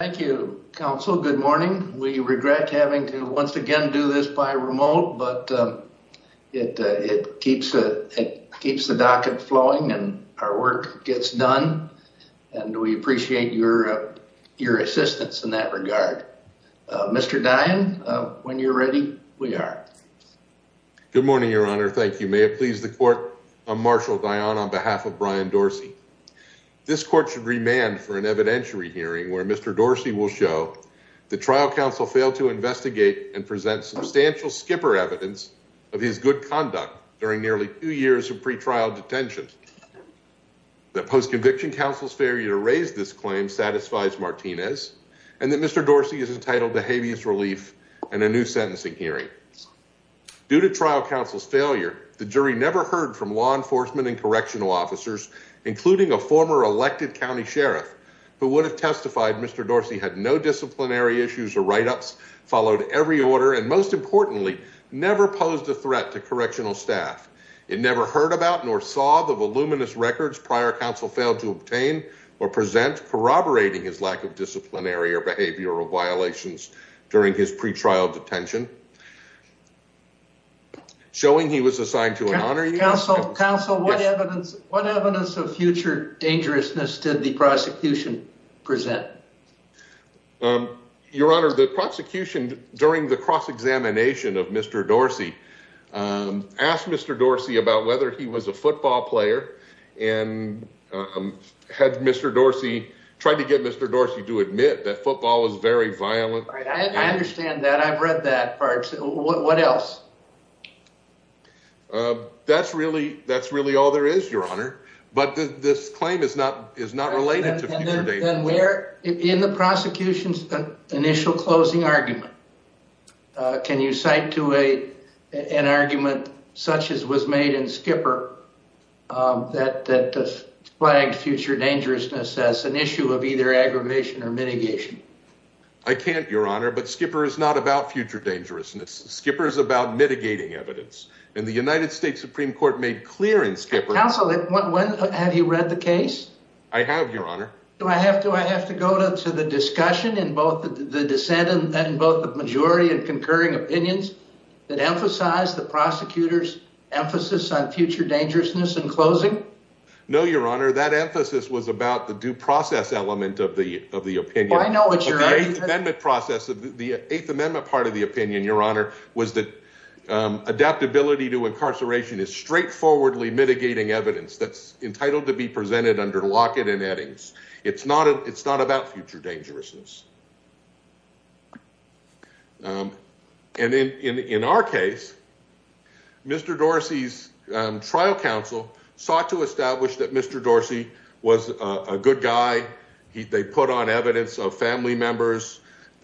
Thank you, counsel. Good morning. We regret having to once again do this by remote, but it keeps the docket flowing and our work gets done. And we appreciate your assistance in that regard. Mr. Dionne, when you're ready, we are. Good morning, Your Honor. Thank you. May it please the court, I'm Marshal Dionne on behalf of Brian Dorsey. This court should remand for an evidentiary hearing where Mr. Dorsey will show the trial counsel failed to investigate and present substantial skipper evidence of his good conduct during nearly two years of pretrial detention. The post-conviction counsel's failure to raise this claim satisfies Martinez and that Mr. Dorsey is entitled to habeas relief and a new sentencing hearing. Due to trial counsel's failure, the jury never heard from law enforcement and correctional officers, including a former elected county sheriff who would have testified Mr. Dorsey had no disciplinary issues or write-ups, followed every order, and most importantly, never posed a threat to correctional staff. It never heard about nor saw the voluminous records prior counsel failed to obtain or present corroborating his lack of disciplinary or behavioral violations during his pretrial detention. Showing he was assigned to an honorary counsel, counsel, what evidence, what evidence of future dangerousness did the prosecution present? Your Honor, the prosecution during the cross-examination of Mr. Dorsey, um, asked Mr. Dorsey about whether he was a football player and, um, had Mr. Dorsey tried to get Mr. Dorsey to admit that football is very violent. I understand that I've read that part. So what else? Uh, that's really, that's really all there is, Your Honor. But this claim is not, is not related to where in the prosecution's initial closing argument. Can you cite to a, an argument such as was made in Skipper, um, that, that flagged future dangerousness as an issue of either aggravation or mitigation? I can't, Your Honor, but Skipper is not about future dangerousness. Skipper is about mitigating evidence and the United States Supreme Court made clear in Skipper. Counsel, have you read the case? I have, Your Honor. Do I have, do I have to go to the discussion in both the dissent and both the majority and concurring opinions that emphasize the prosecutor's emphasis on future dangerousness in closing? No, Your Honor, that emphasis was about the due process element of the, of the opinion process of the eighth amendment. Part of the opinion, Your Honor, was that, um, adaptability to incarceration is straightforwardly mitigating evidence that's entitled to be presented under Lockett and Eddings. It's not a, it's not about future dangerousness. Um, and in, in, in our case, Mr. Dorsey's, um, trial counsel sought to establish that family members,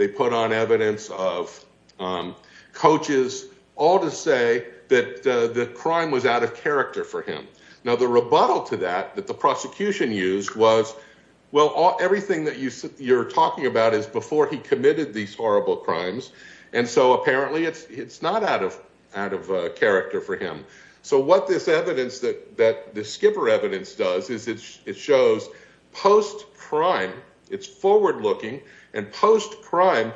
they put on evidence of, um, coaches all to say that, uh, the crime was out of character for him. Now, the rebuttal to that, that the prosecution used was, well, everything that you said you're talking about is before he committed these horrible crimes. And so apparently it's, it's not out of, out of, uh, character for him. So what this evidence that, that the Skipper evidence does is it's, it shows post crime, it's forward looking and post crime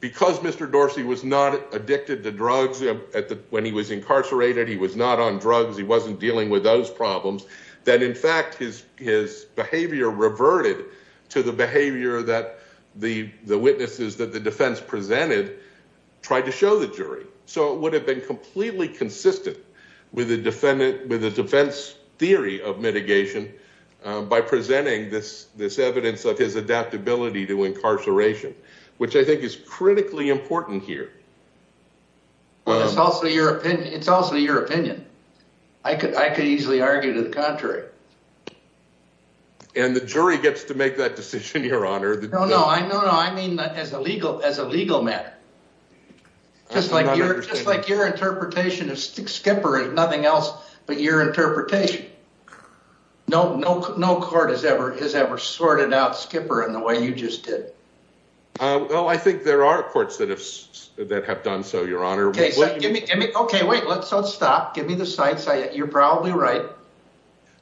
because Mr. Dorsey was not addicted to drugs at the, when he was incarcerated, he was not on drugs. He wasn't dealing with those problems that in fact his, his behavior reverted to the behavior that the, the witnesses that the defense presented tried to show the defense theory of mitigation, um, by presenting this, this evidence of his adaptability to incarceration, which I think is critically important here. Well, it's also your opinion. It's also your opinion. I could, I could easily argue to the contrary. And the jury gets to make that decision, your honor. No, no, I know. No, I mean as a legal, as a legal matter, just like you're just like your interpretation of Skipper is nothing else but your interpretation. No, no, no court has ever, has ever sorted out Skipper in the way you just did. Uh, well, I think there are courts that have, that have done so your honor. Okay, so give me, give me, okay, wait, let's, let's stop. Give me the side. You're probably right.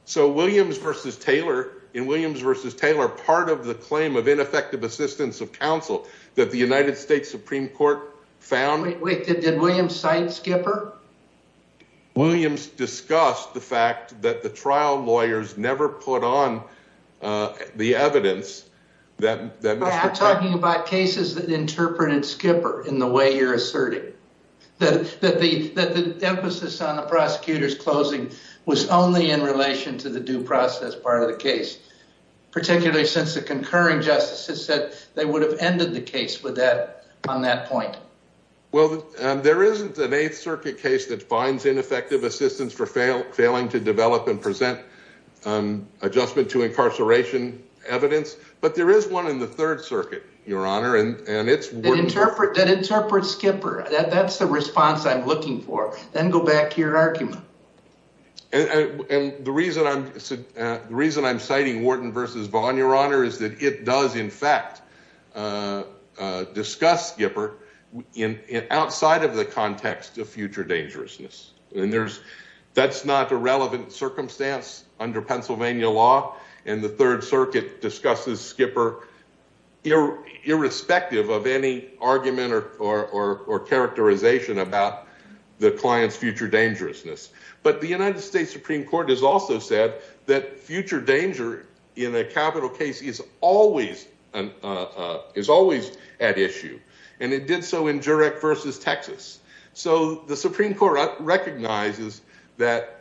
So Williams versus Taylor in Williams versus Taylor, part of the claim of ineffective assistance of counsel that the United States Supreme Court found. Wait, wait, did, did William cite Skipper? Williams discussed the fact that the trial lawyers never put on, uh, the evidence that, that Mr. Taylor... I'm talking about cases that interpreted Skipper in the way you're asserting. That, that the, that the emphasis on the prosecutor's closing was only in relation to the due process part of the case, particularly since the concurring justices said they would have ended the case with that on that point. Well, um, there isn't an eighth circuit case that finds ineffective assistance for fail, failing to develop and present, um, adjustment to incarceration evidence, but there is one in the third circuit, your honor. And, and it's... That interpret, that interpret Skipper. That, that's the response I'm looking for. Then go back to your argument. And the reason I'm, uh, the reason I'm citing Wharton versus Vaughn, your honor, is that it does in fact, uh, uh, discuss Skipper in, outside of the context of future dangerousness and there's, that's not a relevant circumstance under Pennsylvania law. And the third circuit discusses Skipper irrespective of any argument or, or, or characterization about the client's future dangerousness. But the United States Supreme Court has also said that future danger in a capital case is always, uh, uh, is always at issue. And it did so in Jurek versus Texas. So the Supreme Court recognizes that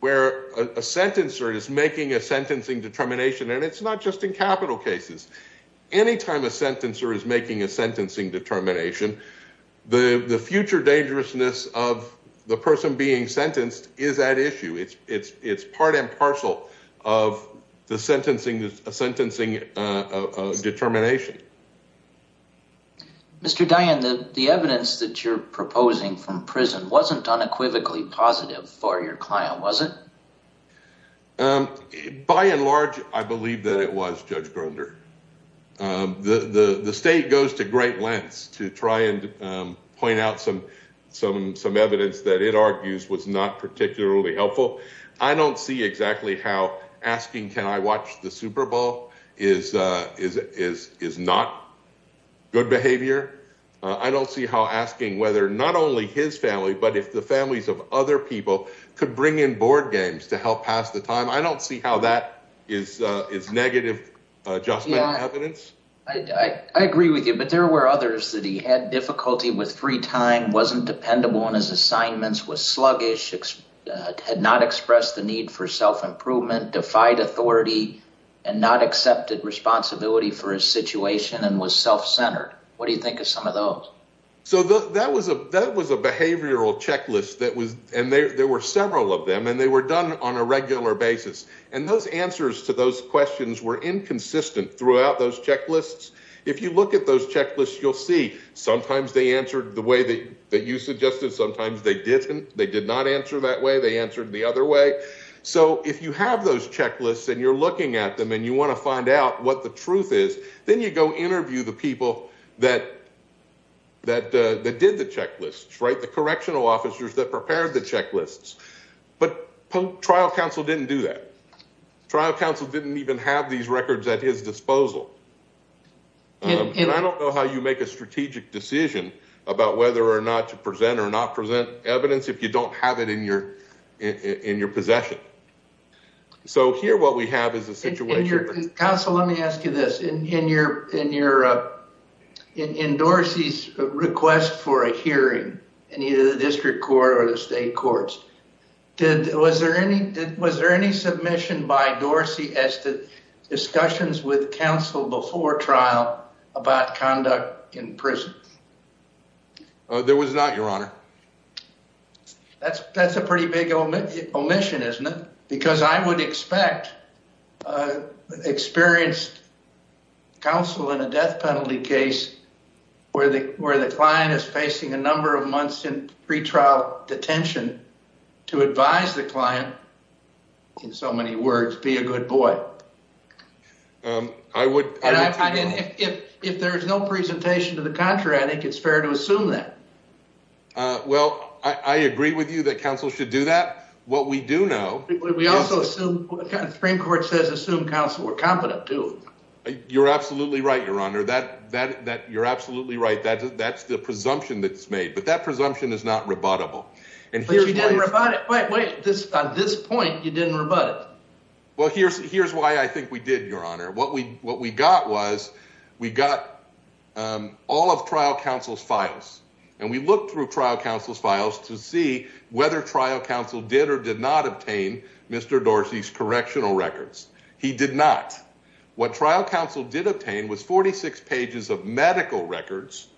where a sentencer is making a sentencing determination and it's not just in capital cases. Anytime a sentencer is making a sentencing determination, the future dangerousness of the person being sentenced is at issue. It's, it's, it's part and parcel of the sentencing, the sentencing, uh, determination. Mr. Dian, the evidence that you're proposing from prison wasn't unequivocally positive for your client, was it? By and large, I believe that it was Judge Grunder. Um, the, the, the state goes to great lengths to try and, um, point out some, some, some evidence that it argues was not particularly helpful. I don't see exactly how asking, can I watch the Superbowl is, uh, is, is, is not good behavior. Uh, I don't see how asking whether not only his family, but if the families of other people could bring in board games to help pass the time. I don't see how that is, uh, is negative adjustment evidence. I agree with you, but there were others that he had difficulty with. Free time wasn't dependable on his assignments, was sluggish, had not expressed the need for self-improvement, defied authority and not accepted responsibility for his situation and was self-centered. What do you think of some of those? So the, that was a, that was a behavioral checklist that was, and there, there were several of them and they were done on a regular basis. And those answers to those questions were inconsistent throughout those checklists. If you look at those checklists, you'll see sometimes they answered the way that you suggested. Sometimes they didn't, they did not answer that way. They answered the other way. So if you have those checklists and you're looking at them and you want to find out what the truth is, then you go interview the people that, that, uh, that did the checklists, right? The correctional officers that prepared the checklists, but trial counsel didn't do that. Trial counsel didn't even have these records at his disposal. Um, and I don't know how you make a strategic decision about whether or not to present or not present evidence if you don't have it in your, in your possession. So here, what we have is a situation. Counsel, let me ask you this. In your, in your, uh, in Dorsey's request for a hearing in either the district court or the state courts, did, was there any, was there any submission by Dorsey as to discussions with counsel before trial about conduct in prison? There was not your honor. That's that's a pretty big omission, isn't it? Because I would expect, uh, experienced counsel in a death penalty case where the, where the client is facing a number of months in pre-trial detention to advise the client in so many words, be a good boy. Um, I would, I didn't, if, if, if there's no presentation to the contrary, I think it's fair to assume that, uh, well, I, I agree with you that counsel should do that. What we do know, we also assume the Supreme Court says, assume counsel were competent too. You're absolutely right. Your honor that, that, that you're absolutely right. That that's the presumption that's made, but that presumption is not rebuttable. And here's why you didn't rebut it. Wait, wait, this, this point, you didn't rebut it. Well, here's, here's why I think we did your honor. What we, what we got was we got, um, all of trial counsel's files and we looked through trial counsel's files to see whether trial counsel did or did not obtain Mr. Dorsey's correctional records. He did not. What trial counsel did obtain was 46 pages of medical records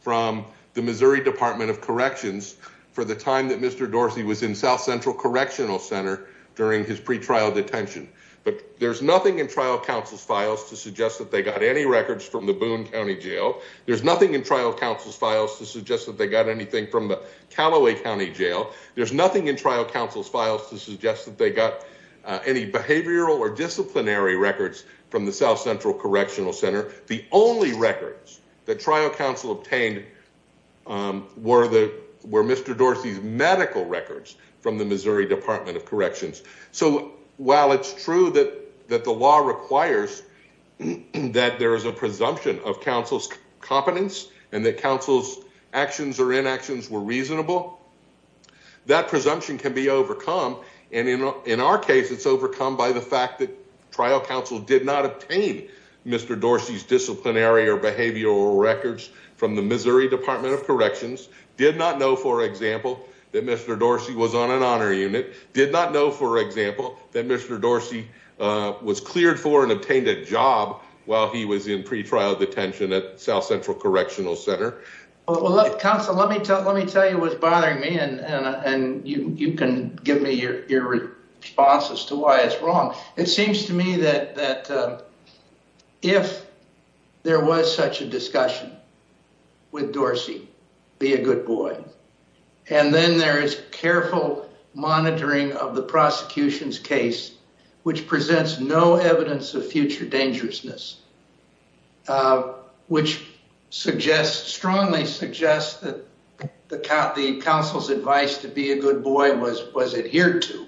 from the Missouri Department of Corrections for the time that Mr. Dorsey was in South Central Correctional Center during his pretrial detention. But there's nothing in trial counsel's files to suggest that they got any records from the Boone County Jail. There's nothing in trial counsel's files to suggest that they got anything from the Calloway County Jail. There's nothing in trial counsel's files to suggest that they got any behavioral or disciplinary records from the South Central Correctional Center. The only records that trial counsel obtained, um, were the, were Mr. Dorsey's medical records from the Missouri Department of Corrections. So while it's true that, that the law requires that there is a presumption of counsel's competence and that counsel's actions or inactions were reasonable, that presumption can be overcome. And in, in our case, it's overcome by the fact that trial counsel did not obtain Mr. Dorsey's disciplinary or behavioral records from the Missouri Department of Corrections. Did not know, for example, that Mr. Dorsey was on an honor unit. Did not know, for example, that Mr. Dorsey, uh, was cleared for and obtained a job while he was in pretrial detention at South Central Correctional Center. Counsel, let me tell, let me tell you what's bothering me and, and, uh, and you, you can give me your, your response as to why it's wrong. It seems to me that, that, uh, if there was such a discussion with Dorsey, be a good boy. And then there is careful monitoring of the prosecution's case, which presents no evidence of future dangerousness, uh, which suggests, strongly suggests that the coun, the counsel's advice to be a good boy was, was adhered to.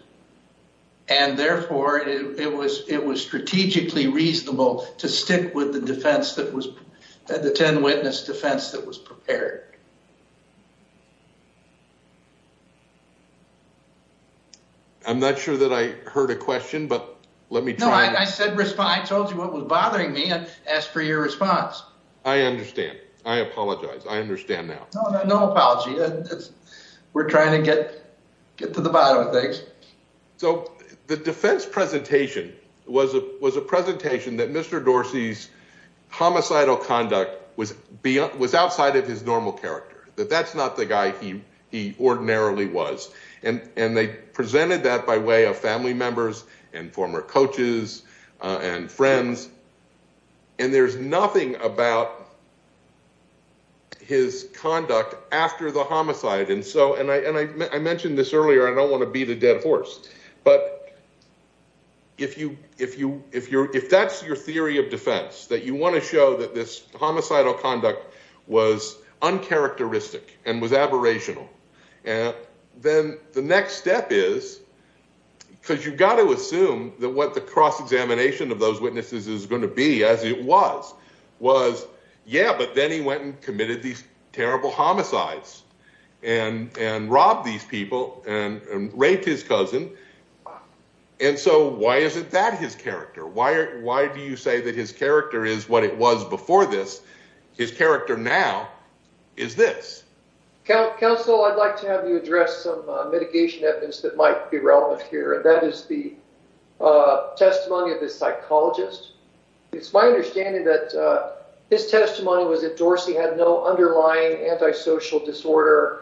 And therefore it was, it was strategically reasonable to stick with the defense that was, the 10 witness defense that was prepared. I'm not sure that I heard a question, but let me try. No, I said respond. I told you what was bothering me and asked for your response. I understand. I apologize. I understand now. No, no, no apology. We're trying to get, get to the bottom of things. So the defense presentation was a, was a presentation that Mr. Dorsey's homicidal conduct was beyond, was outside of his normal character, that that's not the guy he, he ordinarily was. And, and they presented that by way of family members and former coaches, and friends, and there's nothing about his conduct after the homicide. And so, and I, and I mentioned this earlier, I don't want to beat a dead horse, but if you, if you, if you're, if that's your theory of defense that you want to show that this homicidal conduct was uncharacteristic and was aberrational, then the next step is, because you've got to assume that what the cross-examination of those witnesses is going to be as it was, was yeah, but then he went and committed these terrible homicides and, and robbed these people and raped his cousin. And so why isn't that his character? Why are, why do you say that his character is what it was before this? His character now is this. Counsel, I'd like to have you address some mitigation evidence that might be relevant here, and that is the testimony of the psychologist. It's my understanding that his testimony was that Dorsey had no underlying antisocial disorder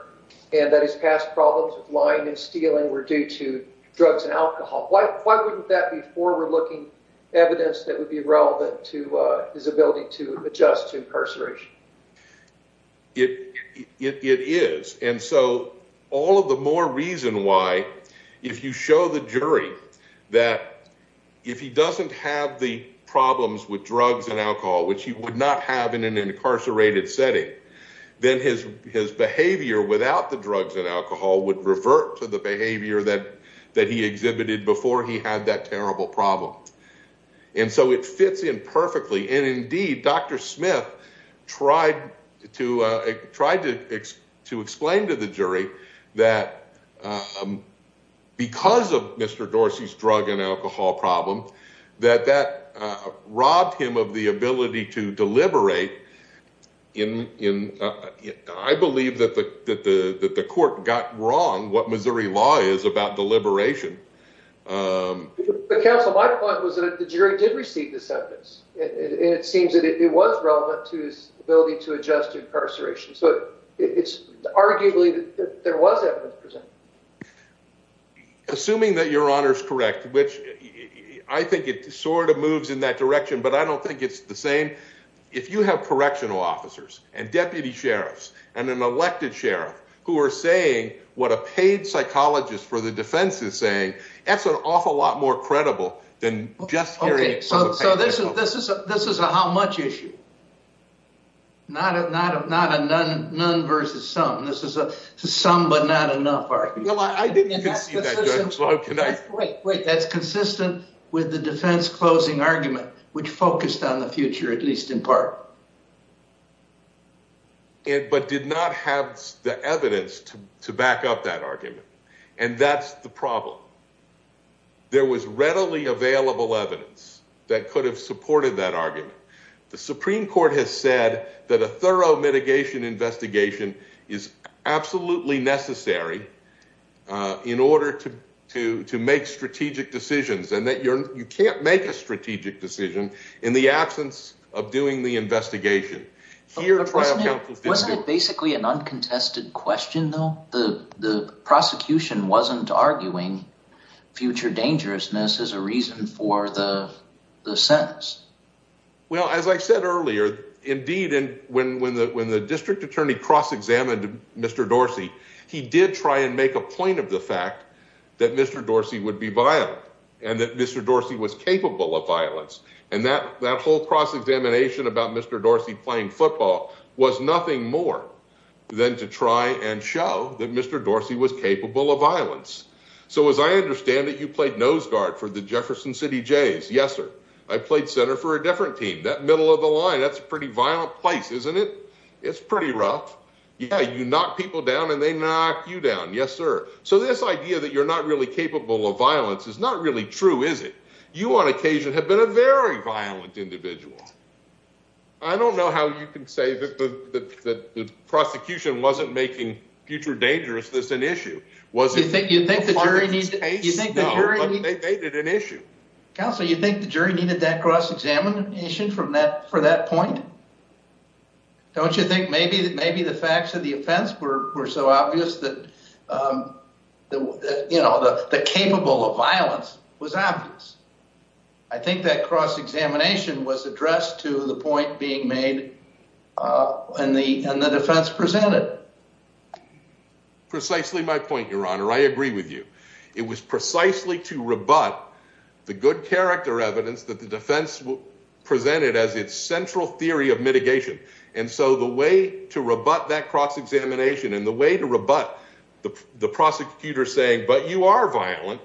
and that his past problems with lying and stealing were due to drugs and alcohol. Why, why wouldn't that be forward-looking evidence that would be relevant to his ability to adjust to incarceration? It, it, it is. And so all of the more reason why, if you show the jury that if he doesn't have the problems with drugs and alcohol, which he would not have in an incarcerated setting, then his, his behavior without the drugs and alcohol would revert to the behavior that, that he exhibited before he had that terrible problem. And so it fits in perfectly. And indeed, Dr. Smith tried to, tried to, to explain to the jury that because of Mr. Dorsey's drug and alcohol problem, that that robbed him of the ability to deliberate in, in, I believe that the, that the, that the court got wrong what Missouri law is about deliberation. Um, but counsel, my point was that the jury did receive the sentence and it seems that it was relevant to his ability to adjust to incarceration. So it's arguably that there was evidence presented. Assuming that your honor's correct, which I think it sort of moves in that direction, but I don't think it's the same. If you have correctional officers and deputy sheriffs and elected sheriff who are saying what a paid psychologist for the defense is saying, that's an awful lot more credible than just hearing it. So, so this is, this is a, this is a, how much issue, not a, not a, not a none, none versus some, this is a, some, but not enough. That's consistent with the defense closing argument, which focused on the future, at least in part. It, but did not have the evidence to, to back up that argument. And that's the problem. There was readily available evidence that could have supported that argument. The Supreme court has said that a thorough mitigation investigation is absolutely necessary. In order to, to, to make strategic decisions and that you're, you can't make a strategic decision in the absence of doing the investigation. You're trying to basically an uncontested question though, the, the prosecution wasn't arguing future dangerousness as a reason for the, the sentence. Well, as I said earlier, indeed. And when, when the, when the district attorney cross-examined Mr. Dorsey, he did try and make a point of the fact that Mr. Dorsey would be violent and that Mr. Dorsey was capable of violence. And that, that whole cross-examination about Mr. Dorsey playing football was nothing more than to try and show that Mr. Dorsey was capable of violence. So as I understand it, you played nose guard for the Jefferson city Jays. Yes, sir. I played center for a different team, that middle of the line. That's a pretty violent place, isn't it? It's pretty rough. Yeah. You knock people down and they knock you down. Yes, sir. So this idea that you're not really capable of violence is not really true. You on occasion have been a very violent individual. I don't know how you can say that the prosecution wasn't making future dangerousness an issue. Counselor, you think the jury needed that cross-examination from that, for that point? Don't you think maybe, maybe the facts of the offense were so obvious that, that, you know, the, the capable of violence was obvious. I think that cross-examination was addressed to the point being made in the, in the defense presented. Precisely my point, your honor. I agree with you. It was precisely to rebut the good character evidence that the defense presented as its central theory of mitigation. And so the way to rebut that cross-examination and the way to rebut the prosecutor saying, but you are violent,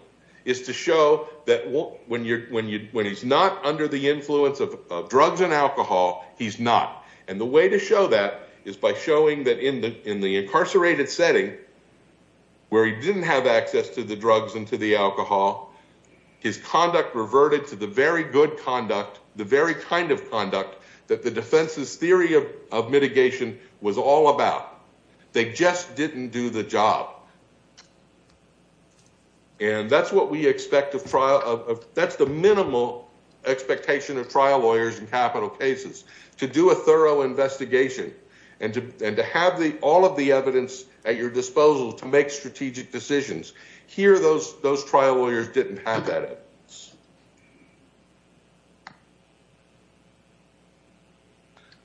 is to show that when he's not under the influence of drugs and alcohol, he's not. And the way to show that is by showing that in the incarcerated setting, where he didn't have access to the drugs and to the alcohol, his conduct reverted to the very good conduct, the very kind of conduct that the defense's theory of mitigation was all about. They just didn't do the job. And that's what we expect of trial of, that's the minimal expectation of trial lawyers in capital cases, to do a thorough investigation and to, and to have the, all of the evidence at your disposal to make strategic decisions. Here, those, those trial lawyers didn't have that evidence.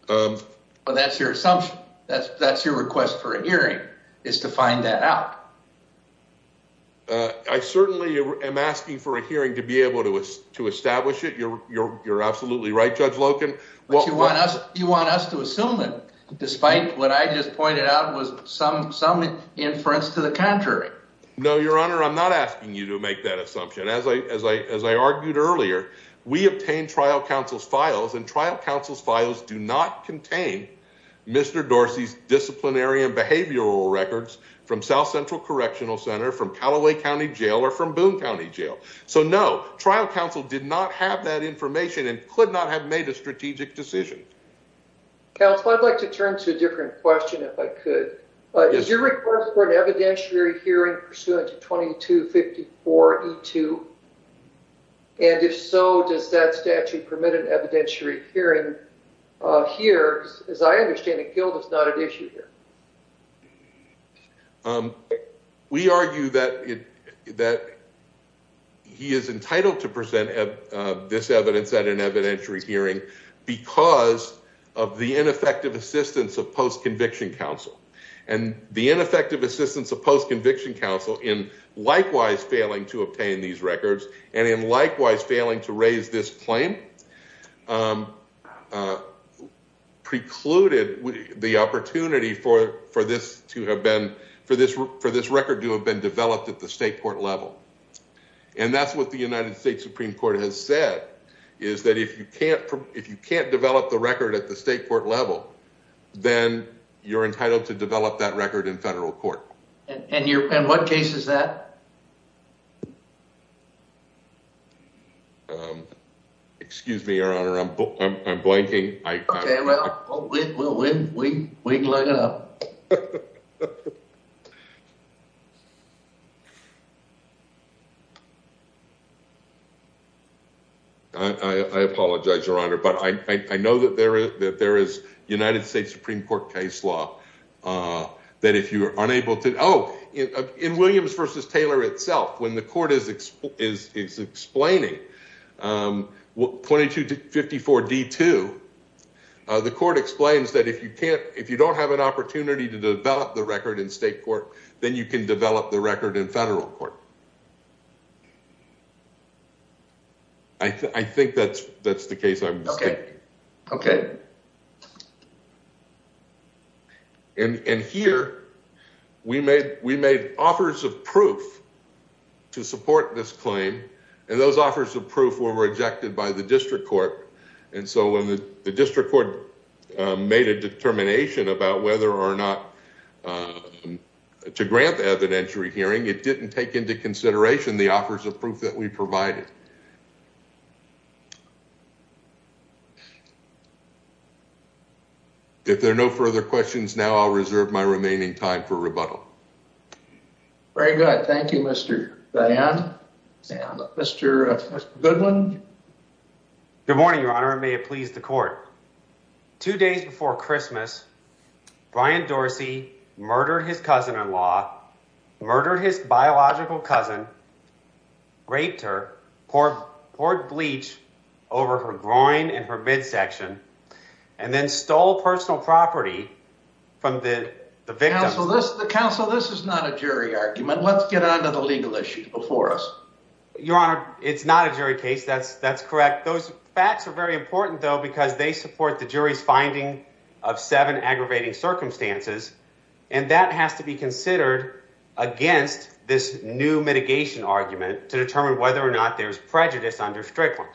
Um, but that's your assumption. That's, that's your request for a hearing is to find that out. Uh, I certainly am asking for a hearing to be able to, to establish it. You're, you're, you're absolutely right. Judge Loken. Well, you want us, you want us to assume that despite what I just pointed out was some, some inference to the contrary. No, your honor, I'm not asking you to make that assumption. As I, as I, as I argued earlier, we obtained trial counsel's files and trial counsel's files do not contain Mr. Dorsey's disciplinary and behavioral records from South Central Correctional Center, from Callaway County Jail, or from Boone County Jail. So no, trial counsel did not have that information and could not have made a strategic decision. Counsel, I'd like to turn to a different question if I could, but is your request for an evidentiary hearing pursuant to 2254 E2? And if so, does that statute permit an evidentiary hearing here? As I understand it, guilt is not an issue here. We argue that it, that he is entitled to present this evidence at an evidentiary hearing because of the ineffective assistance of post-conviction counsel and the likewise failing to raise this claim precluded the opportunity for, for this to have been, for this, for this record to have been developed at the state court level. And that's what the United States Supreme Court has said is that if you can't, if you can't develop the record at the state court level, then you're entitled to develop that record in federal court. And your, and what case is that? Excuse me, Your Honor, I'm, I'm, I'm blanking. I apologize, Your Honor, but I, I know that there is, that there is United States Supreme Court case law that if you are unable to, oh, in, in Williams versus Taylor itself, when the court is explaining 2254 D2, the court explains that if you can't, if you don't have an opportunity to develop the record in state court, then you can develop the record in federal court. I think that's, that's the case. Okay. Okay. And, and here we made, we made offers of proof to support this claim and those offers of proof were rejected by the district court. And so when the district court made a determination about whether or not to grant the evidentiary hearing, it didn't take into consideration the offers of evidence that we provided. If there are no further questions now, I'll reserve my remaining time for rebuttal. Very good. Thank you, Mr. Van and Mr. Goodwin. Good morning, Your Honor, and may it please the court. Two days before Christmas, Brian Dorsey murdered his cousin-in-law, murdered his biological cousin, raped her, poured bleach over her groin and her midsection, and then stole personal property from the victim. Counsel, this is not a jury argument. Let's get onto the legal issues before us. Your Honor, it's not a jury case. That's, that's correct. Those facts are very important though, because they support the jury's finding of seven aggravating circumstances, and that has to be considered against this new mitigation argument to determine whether or not there's prejudice under Strickland.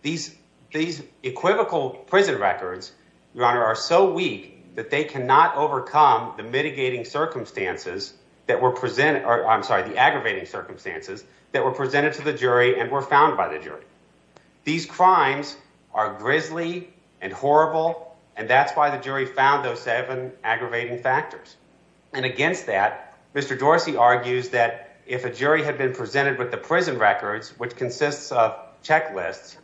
These, these equivocal prison records, Your Honor, are so weak that they cannot overcome the mitigating circumstances that were presented, or I'm sorry, the aggravating circumstances that were presented to the jury and were found by the aggravating factors. And against that, Mr. Dorsey argues that if a jury had been presented with the prison records, which consists of checklists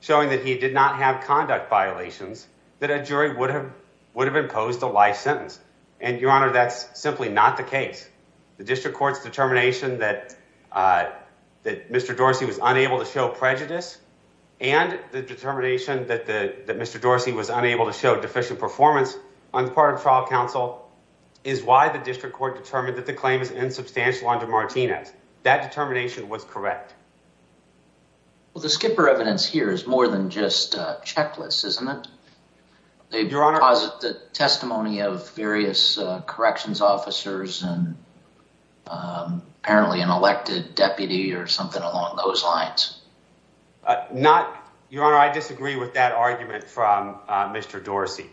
showing that he did not have conduct violations, that a jury would have, would have imposed a life sentence. And Your Honor, that's simply not the case. The district court's determination that, uh, that Mr. Dorsey was unable to show prejudice and the determination that the, that Mr. Dorsey was unable to show deficient performance on the part of trial counsel is why the district court determined that the claim is insubstantial under Martinez. That determination was correct. Well, the skipper evidence here is more than just a checklist, isn't it? The testimony of various corrections officers and apparently an elected deputy or something along those lines. Uh, not Your Honor. I disagree with that argument from, uh, Mr. Dorsey.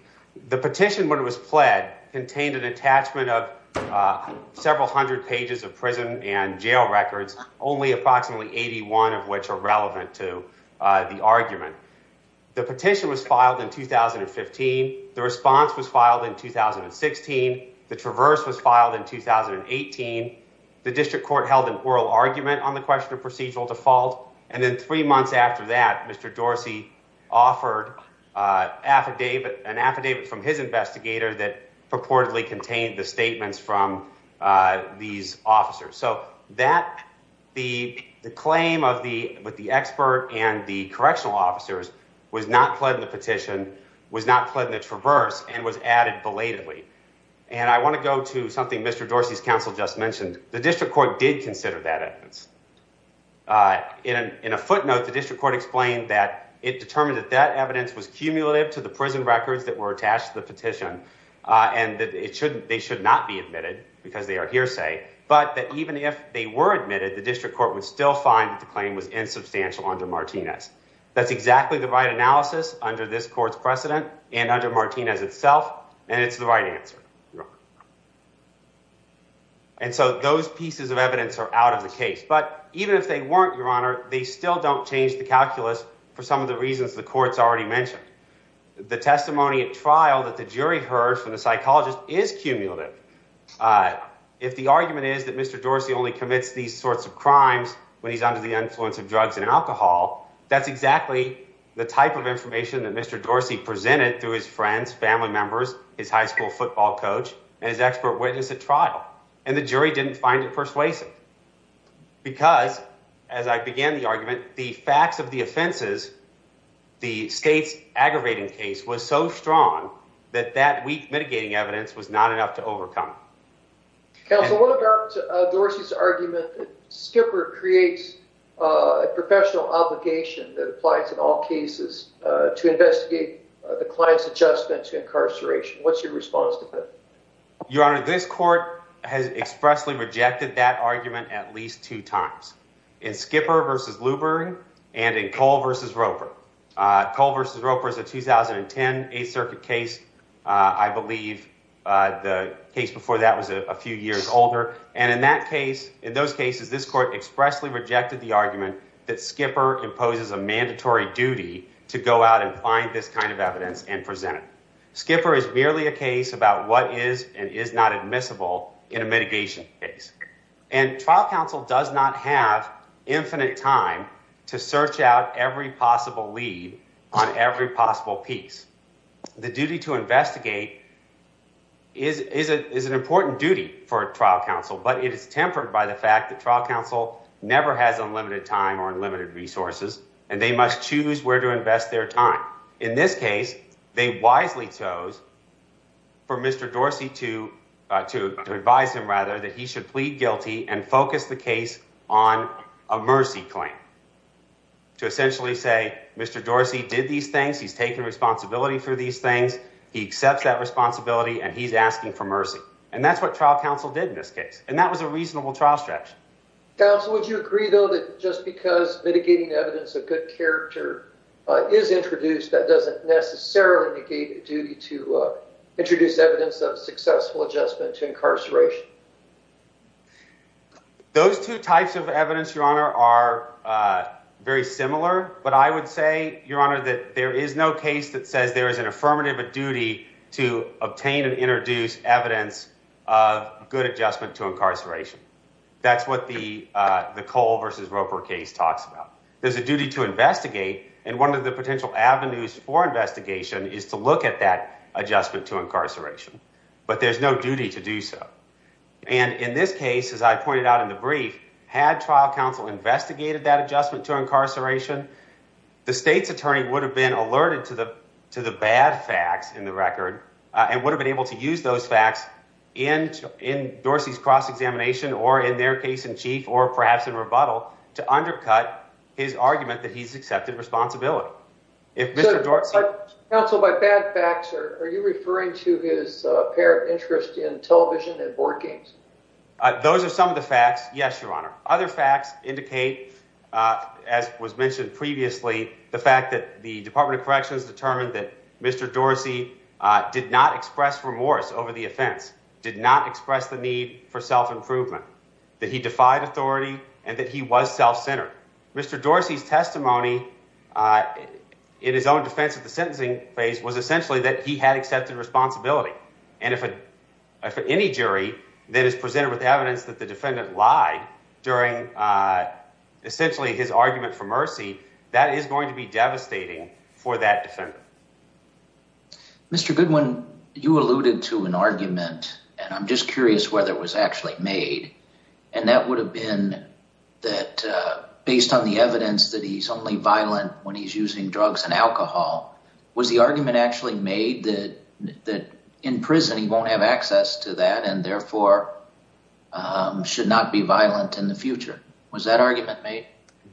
The petition when it was pled contained an attachment of, uh, several hundred pages of prison and jail records, only approximately 81 of which are relevant to, uh, the argument. The petition was filed in 2015. The response was filed in 2016. The traverse was filed in 2018. The district court held an oral argument on the question of procedural default. And then three months after that, Mr. Dorsey offered, uh, affidavit, an affidavit from his investigator that purportedly contained the statements from, uh, these officers. So that the, the claim of the, with the expert and the correctional officers was not pled in the petition, was not pled in the traverse and was added belatedly. And I want to go to something Mr. Dorsey's counsel just mentioned. The district court did consider that evidence, uh, in an, in a footnote, the district court explained that it determined that that evidence was cumulative to the prison records that were attached to the petition. Uh, and that it shouldn't, they should not be admitted because they are hearsay, but that even if they were admitted, the district court would still find that the claim was insubstantial under Martinez. That's exactly the right analysis under this court's precedent and under Martinez itself. And it's the right answer. And so those pieces of evidence are out of the case, but even if they weren't your honor, they still don't change the calculus for some of the reasons the courts already mentioned the testimony at trial that the jury heard from the psychologist is cumulative. Uh, if the argument is that Mr. Dorsey only commits these sorts of crimes when he's under the influence of drugs and alcohol, that's exactly the type of information that Mr. Dorsey presented through his friends, family members, his high school football coach, and his expert witness at trial. And the jury didn't find it persuasive because as I began the argument, the facts of the offenses, the state's aggravating case was so strong that that week mitigating evidence was not enough to overcome council. What about Dorsey's argument that skipper creates a professional obligation that applies in all cases, uh, to investigate the client's adjustment to incarceration? What's your response to that? Your honor, this court has expressly rejected that argument at least two times in skipper versus Luber and in Cole versus Roper. Uh, Cole versus Roper is a 2010 eighth circuit case. Uh, I believe, uh, the case before that was a few years older. And in that case, in those cases, this court expressly rejected the argument that skipper imposes a mandatory duty to go out and find this kind of evidence and presented skipper is merely a case about what is and is not admissible in a mitigation case. And trial counsel does not have infinite time to search out every possible lead on every possible piece. The duty to investigate is, is it is an important duty for trial counsel, but it is tempered by the fact that trial counsel never has unlimited time or limited resources, and they must choose where to invest their time. In this case, they wisely chose for mr Dorsey to, uh, to, to advise him rather that he should plead guilty and focus the case on a mercy claim to essentially say, mr Dorsey did these things. He's taken responsibility for these things. He accepts that responsibility and he's asking for mercy. And that's what trial counsel did in this case. And that was a reasonable trial stretch. Counsel, would you agree though, that just because mitigating evidence of good character is introduced, that doesn't necessarily negate a duty to introduce evidence of successful adjustment to incarceration. Those two types of evidence, your honor, are, uh, very similar, but I would say your honor, that there is no case that says there is an affirmative duty to obtain and introduce evidence of good adjustment to incarceration. That's what the, uh, the Cole versus Roper case talks about. There's a duty to investigate. And one of the potential avenues for investigation is to look at that adjustment to incarceration, but there's no duty to do so. And in this case, as I pointed out in the brief, had trial counsel investigated that adjustment to incarceration, the state's attorney would have been alerted to the, to the bad facts in the record and would have been able to use those facts in Dorsey's cross-examination or in their case in chief, or perhaps in rebuttal to undercut his argument that he's accepted responsibility. Counsel, by bad facts, are you referring to his pair of interest in television and board games? Those are some of the facts. Yes, your honor. Other facts indicate, uh, as was mentioned previously, the fact that the department of corrections determined that Mr. Dorsey, uh, did not express remorse over the offense, did not express the need for self-improvement that he defied authority and that he was self-centered. Mr. Dorsey's testimony, uh, in his own defense of the sentencing phase was essentially that he had accepted responsibility. And if any jury that is presented with evidence that the defendant lied during, uh, essentially his argument for mercy, that is going to be devastating for that defendant. Mr. Goodwin, you alluded to an argument and I'm just curious whether it was actually made, and that would have been that, uh, based on the evidence that he's only violent when he's using drugs and alcohol, was the argument actually made that, that in prison, he won't have access to that and therefore, um, should not be violent in the future. Was that argument made?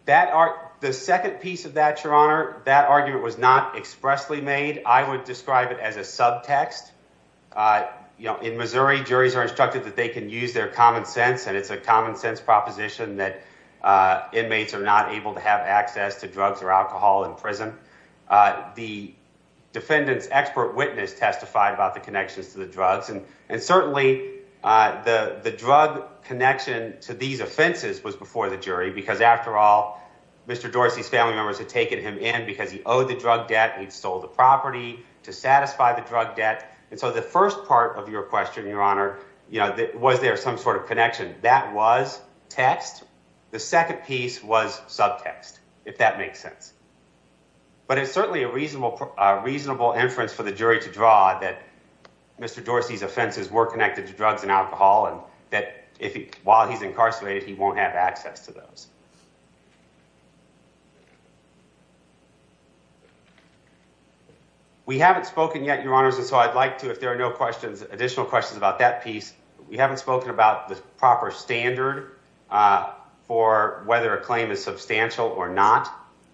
That are the second piece of that, your honor, that argument was not expressly made. I would describe it as a subtext. Uh, you know, in Missouri, juries are instructed that they can use their common sense. And it's a common sense proposition that, uh, inmates are not able to have access to drugs or alcohol in prison. Uh, the defendant's expert witness testified about the connections to the drugs and, and certainly, uh, the, the drug connection to these offenses was before the jury because after all, Mr. Dorsey's family members had taken him in because he owed the drug debt and he'd sold the property to satisfy the drug debt. And so the first part of your question, your honor, you know, was there some sort of connection that was text? The second piece was subtext, if that makes sense, but it's certainly a reasonable, a reasonable inference for the jury to draw that Mr. Dorsey's offenses were connected to drugs and alcohol. And that if he, while he's incarcerated, he won't have access to those. We haven't spoken yet, your honors. And so I'd like to, if there are no questions, additional questions about that piece, we haven't spoken about the proper standard, uh, for whether a claim is substantial or not.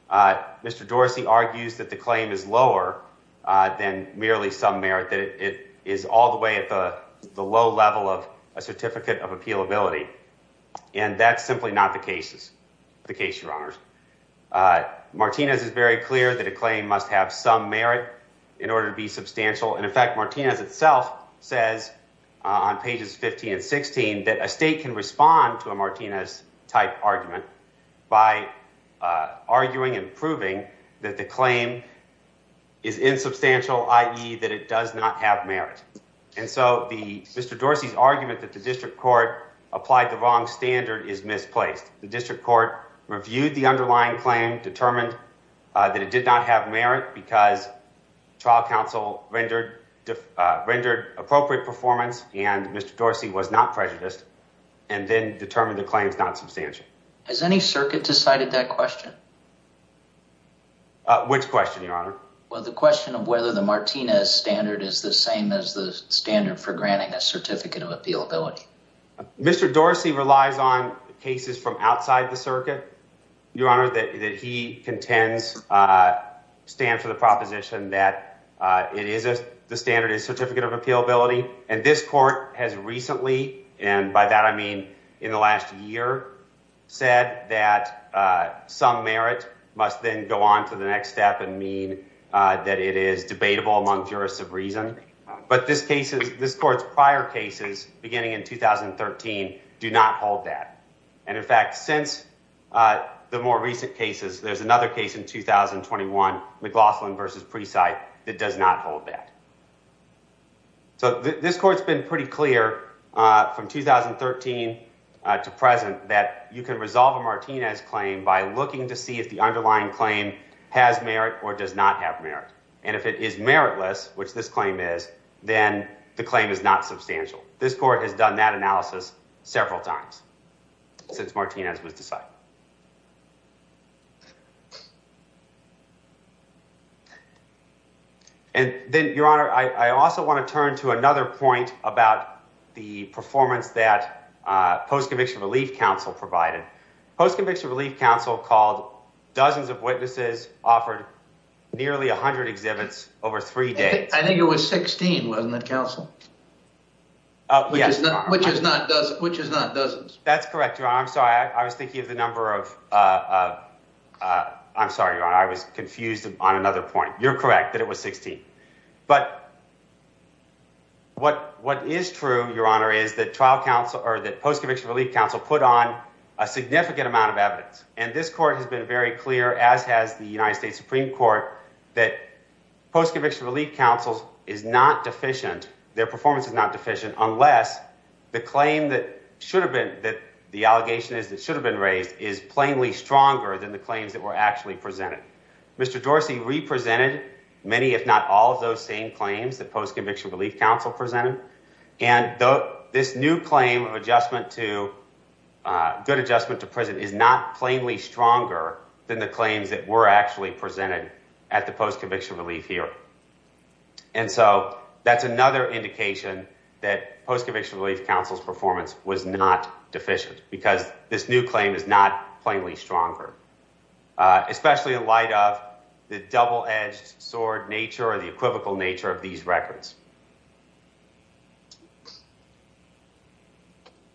Uh, Mr. Dorsey argues that the claim is lower, uh, than merely some merit that it is all the way at the low level of a certificate of appealability. And that's simply not the cases, the case, your honors, uh, Martinez is very clear that a claim must have some merit in order to be substantial. And in fact, Martinez itself says, uh, on pages 15 and 16, that a state can respond to a Martinez type argument by, uh, arguing and proving that the claim is insubstantial, i.e. that it does not have merit. And so the Mr. Dorsey's argument that the district court applied the wrong standard is misplaced. The district court reviewed the underlying claim determined, uh, that it did not have merit because trial counsel rendered, uh, rendered appropriate performance and Mr. Dorsey was not prejudiced and then determined the claim is not substantial. Has any circuit decided that question? Uh, which question your honor? Well, the question of whether the Martinez standard is the same as the standard for granting a certificate of appealability. Mr. Dorsey relies on cases from that, uh, it is a, the standard is certificate of appealability. And this court has recently, and by that, I mean, in the last year said that, uh, some merit must then go on to the next step and mean, uh, that it is debatable among jurists of reason. But this case is this court's prior cases beginning in 2013, do not hold that. And in fact, since, uh, the more recent cases, there's another case in 2021 McLaughlin versus preside that does not hold that. So this court's been pretty clear, uh, from 2013, uh, to present that you can resolve a Martinez claim by looking to see if the underlying claim has merit or does not have merit. And if it is meritless, which this claim is, then the claim is not substantial. This court has done that and then your honor, I also want to turn to another point about the performance that, uh, post-conviction relief council provided post-conviction relief council called dozens of witnesses offered nearly a hundred exhibits over three days. I think it was 16. Wasn't that council? Oh, which is not, which is not does it, which is not dozens. That's a, I'm sorry, your honor. I was confused on another point. You're correct that it was 16, but what, what is true, your honor, is that trial council or that post-conviction relief council put on a significant amount of evidence. And this court has been very clear as has the United States Supreme court that post-conviction relief councils is not deficient. Their performance is not deficient unless the claim that should have been that the allegation is that should have been is plainly stronger than the claims that were actually presented. Mr. Dorsey represented many, if not all of those same claims that post-conviction relief council presented. And this new claim of adjustment to a good adjustment to prison is not plainly stronger than the claims that were actually presented at the post-conviction relief here. And so that's another indication that post-conviction relief council's performance was not deficient because this new claim is not plainly stronger, especially in light of the double-edged sword nature or the equivocal nature of these records.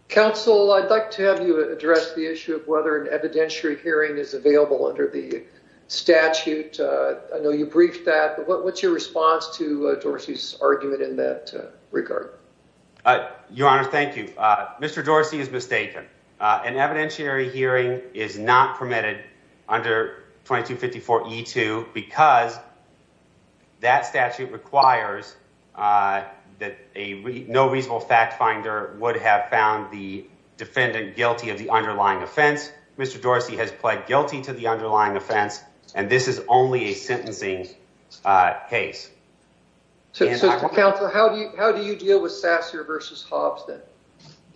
Counsel, I'd like to have you address the issue of whether an evidentiary hearing is available under the statute. I know you briefed that, but what's your response to Dorsey's argument in that an evidentiary hearing is not permitted under 2254E2 because that statute requires that a no reasonable fact finder would have found the defendant guilty of the underlying offense. Mr. Dorsey has pled guilty to the underlying offense, and this is only a sentencing case. So counsel, how do you, how do you deal with Sasser versus Hobson?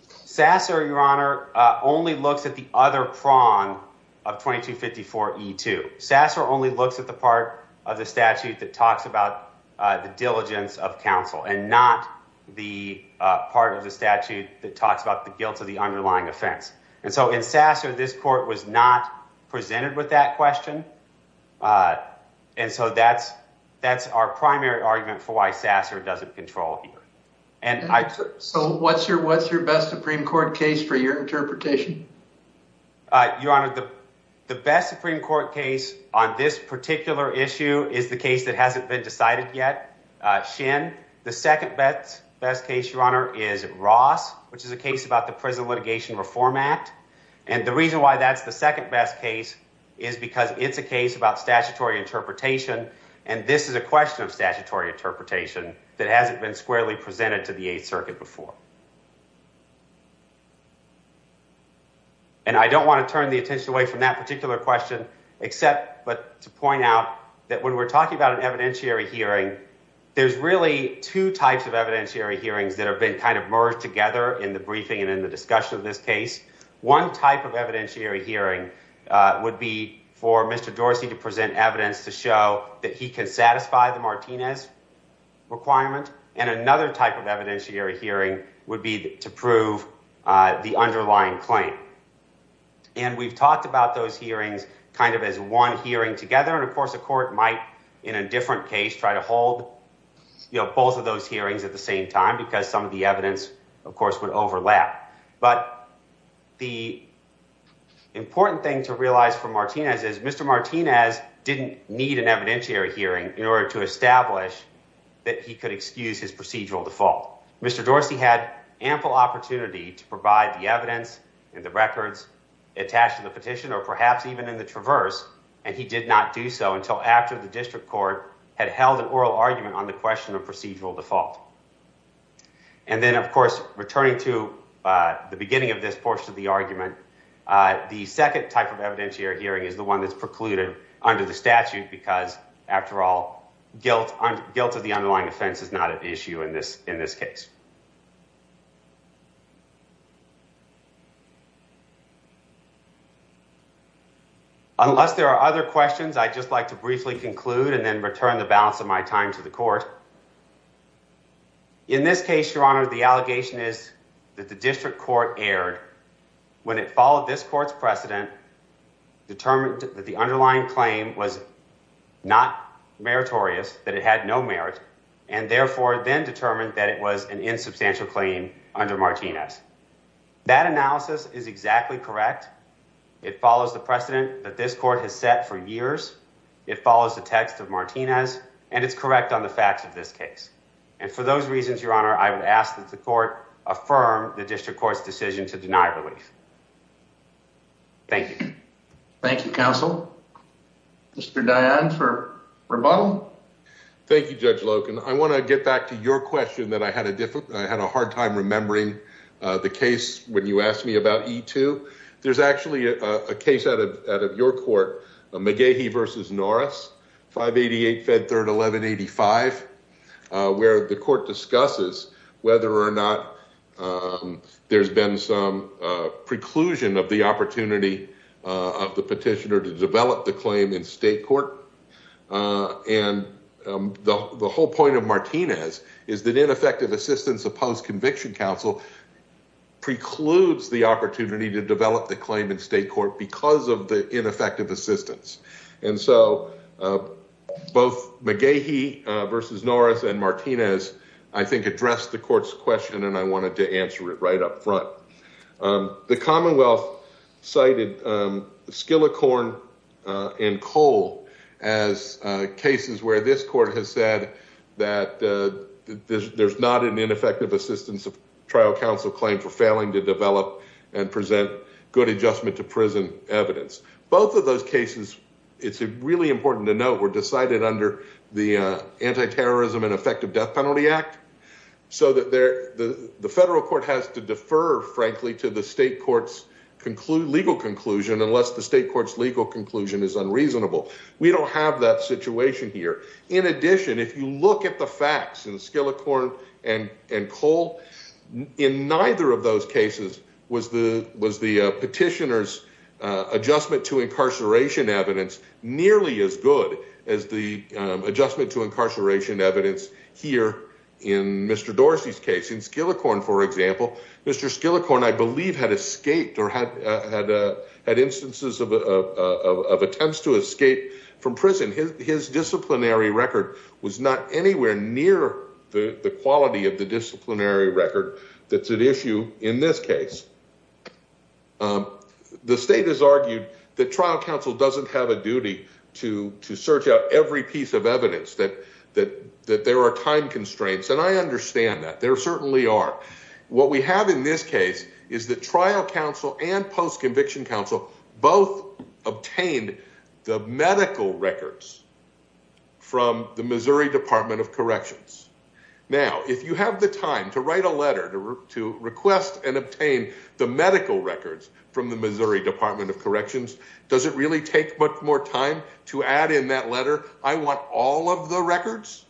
Sasser, your honor, only looks at the other prong of 2254E2. Sasser only looks at the part of the statute that talks about the diligence of counsel and not the part of the statute that talks about the guilt of the underlying offense. And so in Sasser, this court was not presented with that question. And so that's, that's our primary argument for why Sasser doesn't control here. So what's your, what's your best Supreme Court case for your interpretation? Your honor, the best Supreme Court case on this particular issue is the case that hasn't been decided yet, Shin. The second best case, your honor, is Ross, which is a case about the Prison Litigation Reform Act. And the reason why that's the second best case is because it's a case about statutory interpretation. And this is a question of statutory interpretation that hasn't been squarely presented to the Eighth Circuit before. And I don't want to turn the attention away from that particular question except to point out that when we're talking about an evidentiary hearing, there's really two types of evidentiary hearings that have been kind of merged together in the briefing and in the discussion of this case. One type of evidentiary hearing would be for Mr. Dorsey to present evidence to show that he can satisfy the Martinez requirement and another type of evidentiary hearing would be to prove the underlying claim. And we've talked about those hearings kind of as one hearing together. And of course, the court might in a different case, try to hold, you know, both of those hearings at the same time because some of the evidence of course would overlap. But the important thing to realize for Martinez is Mr. Martinez didn't need an evidentiary hearing in order to establish that he could excuse his procedural default. Mr. Dorsey had ample opportunity to provide the evidence and the records attached to the petition or perhaps even in the traverse and he did not do so until after the district court had held an oral argument on the question of procedural default. And then of course, returning to the beginning of this portion of the argument, the second type of evidentiary hearing is the one that's precluded under the underlying offense is not an issue in this case. Unless there are other questions, I just like to briefly conclude and then return the balance of my time to the court. In this case, your honor, the allegation is that the district court erred when it followed this court's precedent, determined that the underlying claim was not meritorious, that it had no merit and therefore then determined that it was an insubstantial claim under Martinez. That analysis is exactly correct. It follows the precedent that this court has set for years. It follows the text of Martinez and it's correct on the facts of this case. And for those reasons, your honor, I would ask that the court affirm the district court's decision to deny release. Thank you. Thank you, counsel. Mr. Dionne for rebuttal. Thank you, Judge Loken. I want to get back to your question that I had a difficult, I had a hard time remembering the case when you asked me about E2. There's actually a case out of your court, McGehee v. Norris, 588 Fed 3rd 1185, where the court discusses whether or not there's been some preclusion of the opportunity of the petitioner to develop the claim in state court. And the whole point of Martinez is that ineffective assistance of post-conviction counsel precludes the opportunity to develop the claim in state court because of the ineffective assistance. And so both McGehee v. Norris and Martinez, I think, addressed the court's question and I wanted to answer it right up front. The commonwealth cited Skillicorn and Cole as cases where this court has said that there's not an ineffective assistance of trial counsel claim for failing to develop and present good adjustment to prison evidence. Both of those cases, it's really important to note, were decided under the Anti-Terrorism and Effective Death Penalty Act so that the federal court has to defer, frankly, to the state court's legal conclusion unless the state court's legal conclusion is unreasonable. We don't have that situation here. In addition, if you look at the facts in Skillicorn and Cole, in neither of those cases was the petitioner's adjustment to incarceration evidence nearly as good as the adjustment to incarceration evidence here in Mr. Dorsey's case. In Skillicorn, for example, Mr. Skillicorn, I believe, had escaped or had instances of attempts to escape from prison. His disciplinary record was not anywhere near the quality of the disciplinary record that's at issue in this case. The state has argued that time constraints, and I understand that. There certainly are. What we have in this case is that trial counsel and post-conviction counsel both obtained the medical records from the Missouri Department of Corrections. Now, if you have the time to write a letter to request and obtain the medical records from the Missouri Department of Corrections, does it really take much more time to add in that letter, I want all of the records?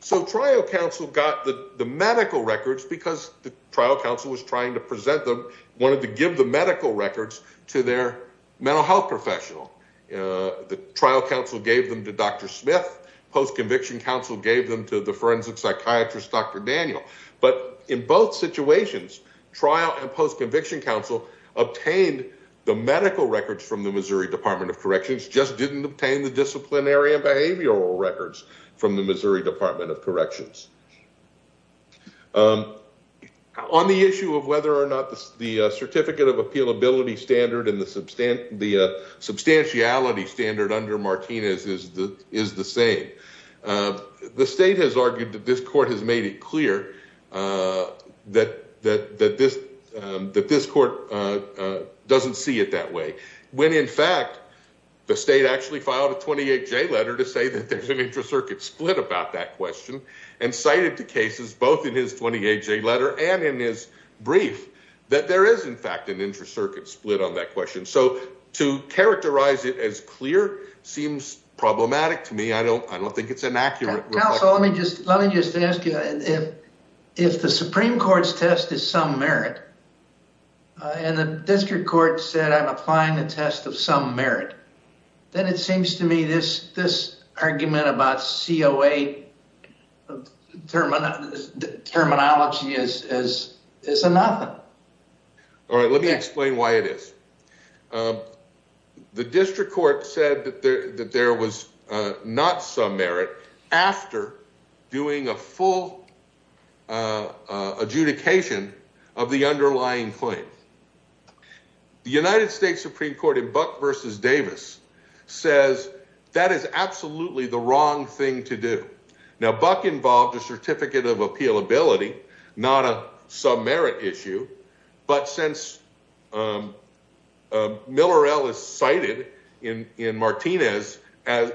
So trial counsel got the medical records because the trial counsel was trying to present them, wanted to give the medical records to their mental health professional. The trial counsel gave them to Dr. Smith. Post-conviction counsel gave them to the forensic psychiatrist, Dr. Daniel. But in both situations, trial and post-conviction counsel obtained the medical records from the Missouri Department of Corrections, just didn't obtain the disciplinary and behavioral records from the Missouri Department of Corrections. On the issue of whether or not the certificate of appealability standard and the substantiality standard under Martinez is the same, the state has argued that this court has uh doesn't see it that way when in fact the state actually filed a 28-J letter to say that there's an intra-circuit split about that question and cited the cases both in his 28-J letter and in his brief that there is in fact an intra-circuit split on that question. So to characterize it as clear seems problematic to me. I don't I don't think it's an accurate. Counsel, let me just let me just ask you if if the Supreme Court's test is some merit and the district court said I'm applying the test of some merit, then it seems to me this this argument about COA terminology is is a nothing. All right, let me explain why it is. The district court said that there that there was not some merit after doing a full adjudication of the underlying claim. The United States Supreme Court in Buck v. Davis says that is absolutely the wrong thing to do. Now Buck involved a certificate of appealability, not a some merit issue, but since Miller L is cited in in Martinez as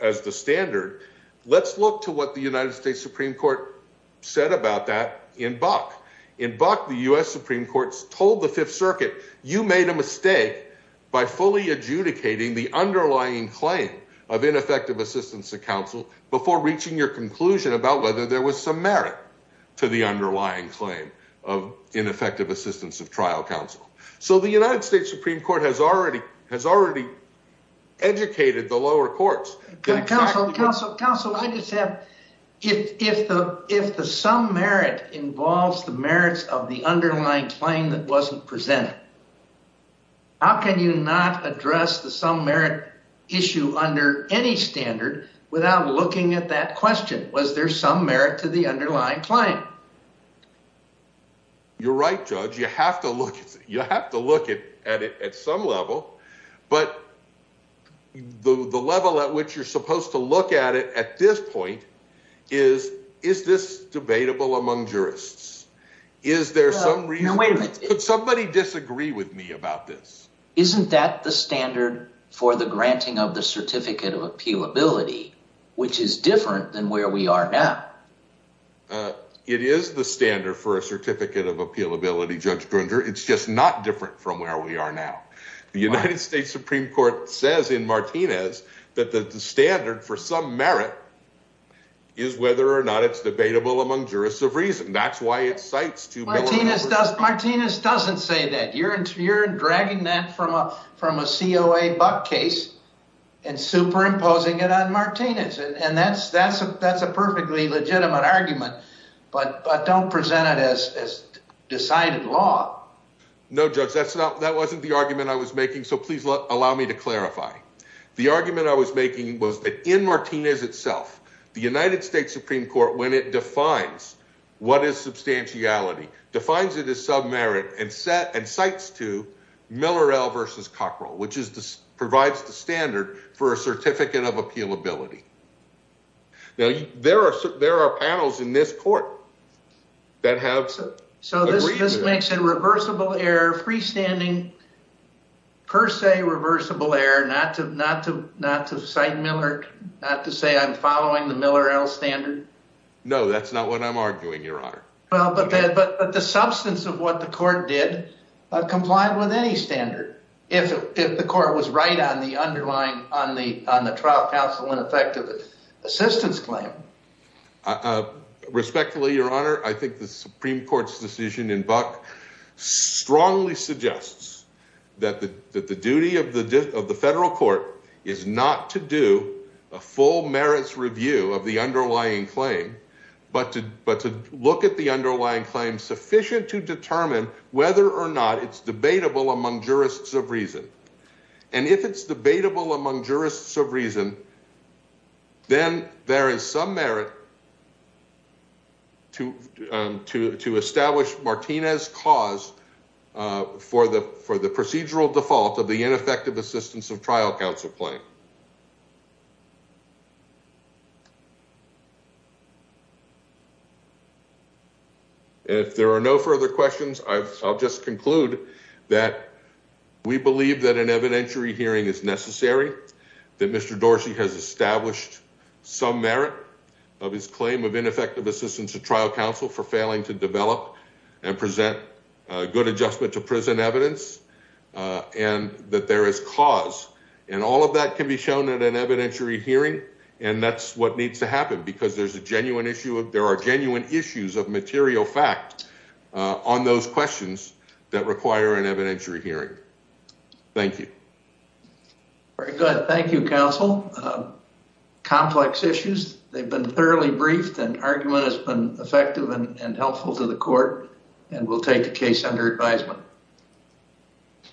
as the standard, let's look to what the United States Supreme Court said about that in Buck. In Buck, the U.S. Supreme Court told the Fifth Circuit you made a mistake by fully adjudicating the underlying claim of ineffective assistance of counsel before reaching your conclusion about whether there was some merit to the underlying claim of ineffective assistance of trial counsel. So the United States Supreme Court has already has already educated the lower courts. Counsel, counsel, counsel, I just have if if the if the some merit involves the merits of the underlying claim that wasn't presented, how can you not address the some merit issue under any standard without looking at that question? Was there some merit to the underlying claim? You're right, Judge. You have to look, you have to look at it at some level, but the the level at which you're supposed to look at it at this point is is this debatable among jurists? Is there some reason, wait a minute, could somebody disagree with me about this? Isn't that the standard for the granting of the certificate of appealability, which is different than where we are now? It is the standard for a certificate of appealability, Judge Grunger. It's just not different from where we are now. The United States Supreme Court says in Martinez that the standard for some merit is whether or not it's debatable among jurists of reason. That's why it cites two Martinez does. Martinez doesn't say that you're you're dragging that from a from a C.O.A. Buck case and superimposing it on Martinez. And that's that's a that's a perfectly legitimate argument. But but don't present it as as decided law. No, Judge, that's not that wasn't the argument I was making. So please allow me to clarify. The argument I was making was that in Martinez itself, the United States Supreme Court, when it defines what is substantiality, defines it as submerit and set and cites to Miller versus Cockrell, which is this provides the standard for a certificate of appealability. Now, there are there are panels in this court that have. So this makes it reversible error, freestanding, per se, reversible error, not to not to not to cite Miller, not to say I'm following the Miller standard. No, that's not what I'm arguing, Your Honor. Well, but but the substance of what the court did comply with any standard. If if the court was right on the underlying on the on the trial counsel and effective assistance claim. Respectfully, Your Honor, I think the Supreme Court's decision in Buck strongly suggests that that the duty of the of the federal court is not to do a full merits review of the underlying claim, but to but to look at the underlying claim sufficient to determine whether or not it's debatable among jurists of reason. And if it's debatable among jurists of reason, then there is some merit. To to to establish Martinez cause for the for the procedural default of the ineffective assistance of trial counsel claim. If there are no further questions, I'll just conclude that we believe that an evidentiary hearing is necessary, that Mr. Dorsey has established some merit of his claim of ineffective assistance to trial counsel for failing to develop and present good adjustment to prison evidence. And that there is cause and all of that can be shown at an evidentiary hearing. And that's what needs to happen because there's a genuine issue of there are genuine issues of material fact on those questions that require an evidentiary hearing. Thank you. Very good. Thank you, counsel. Complex issues. They've been thoroughly briefed and argument has been helpful to the court and we'll take the case under advisement.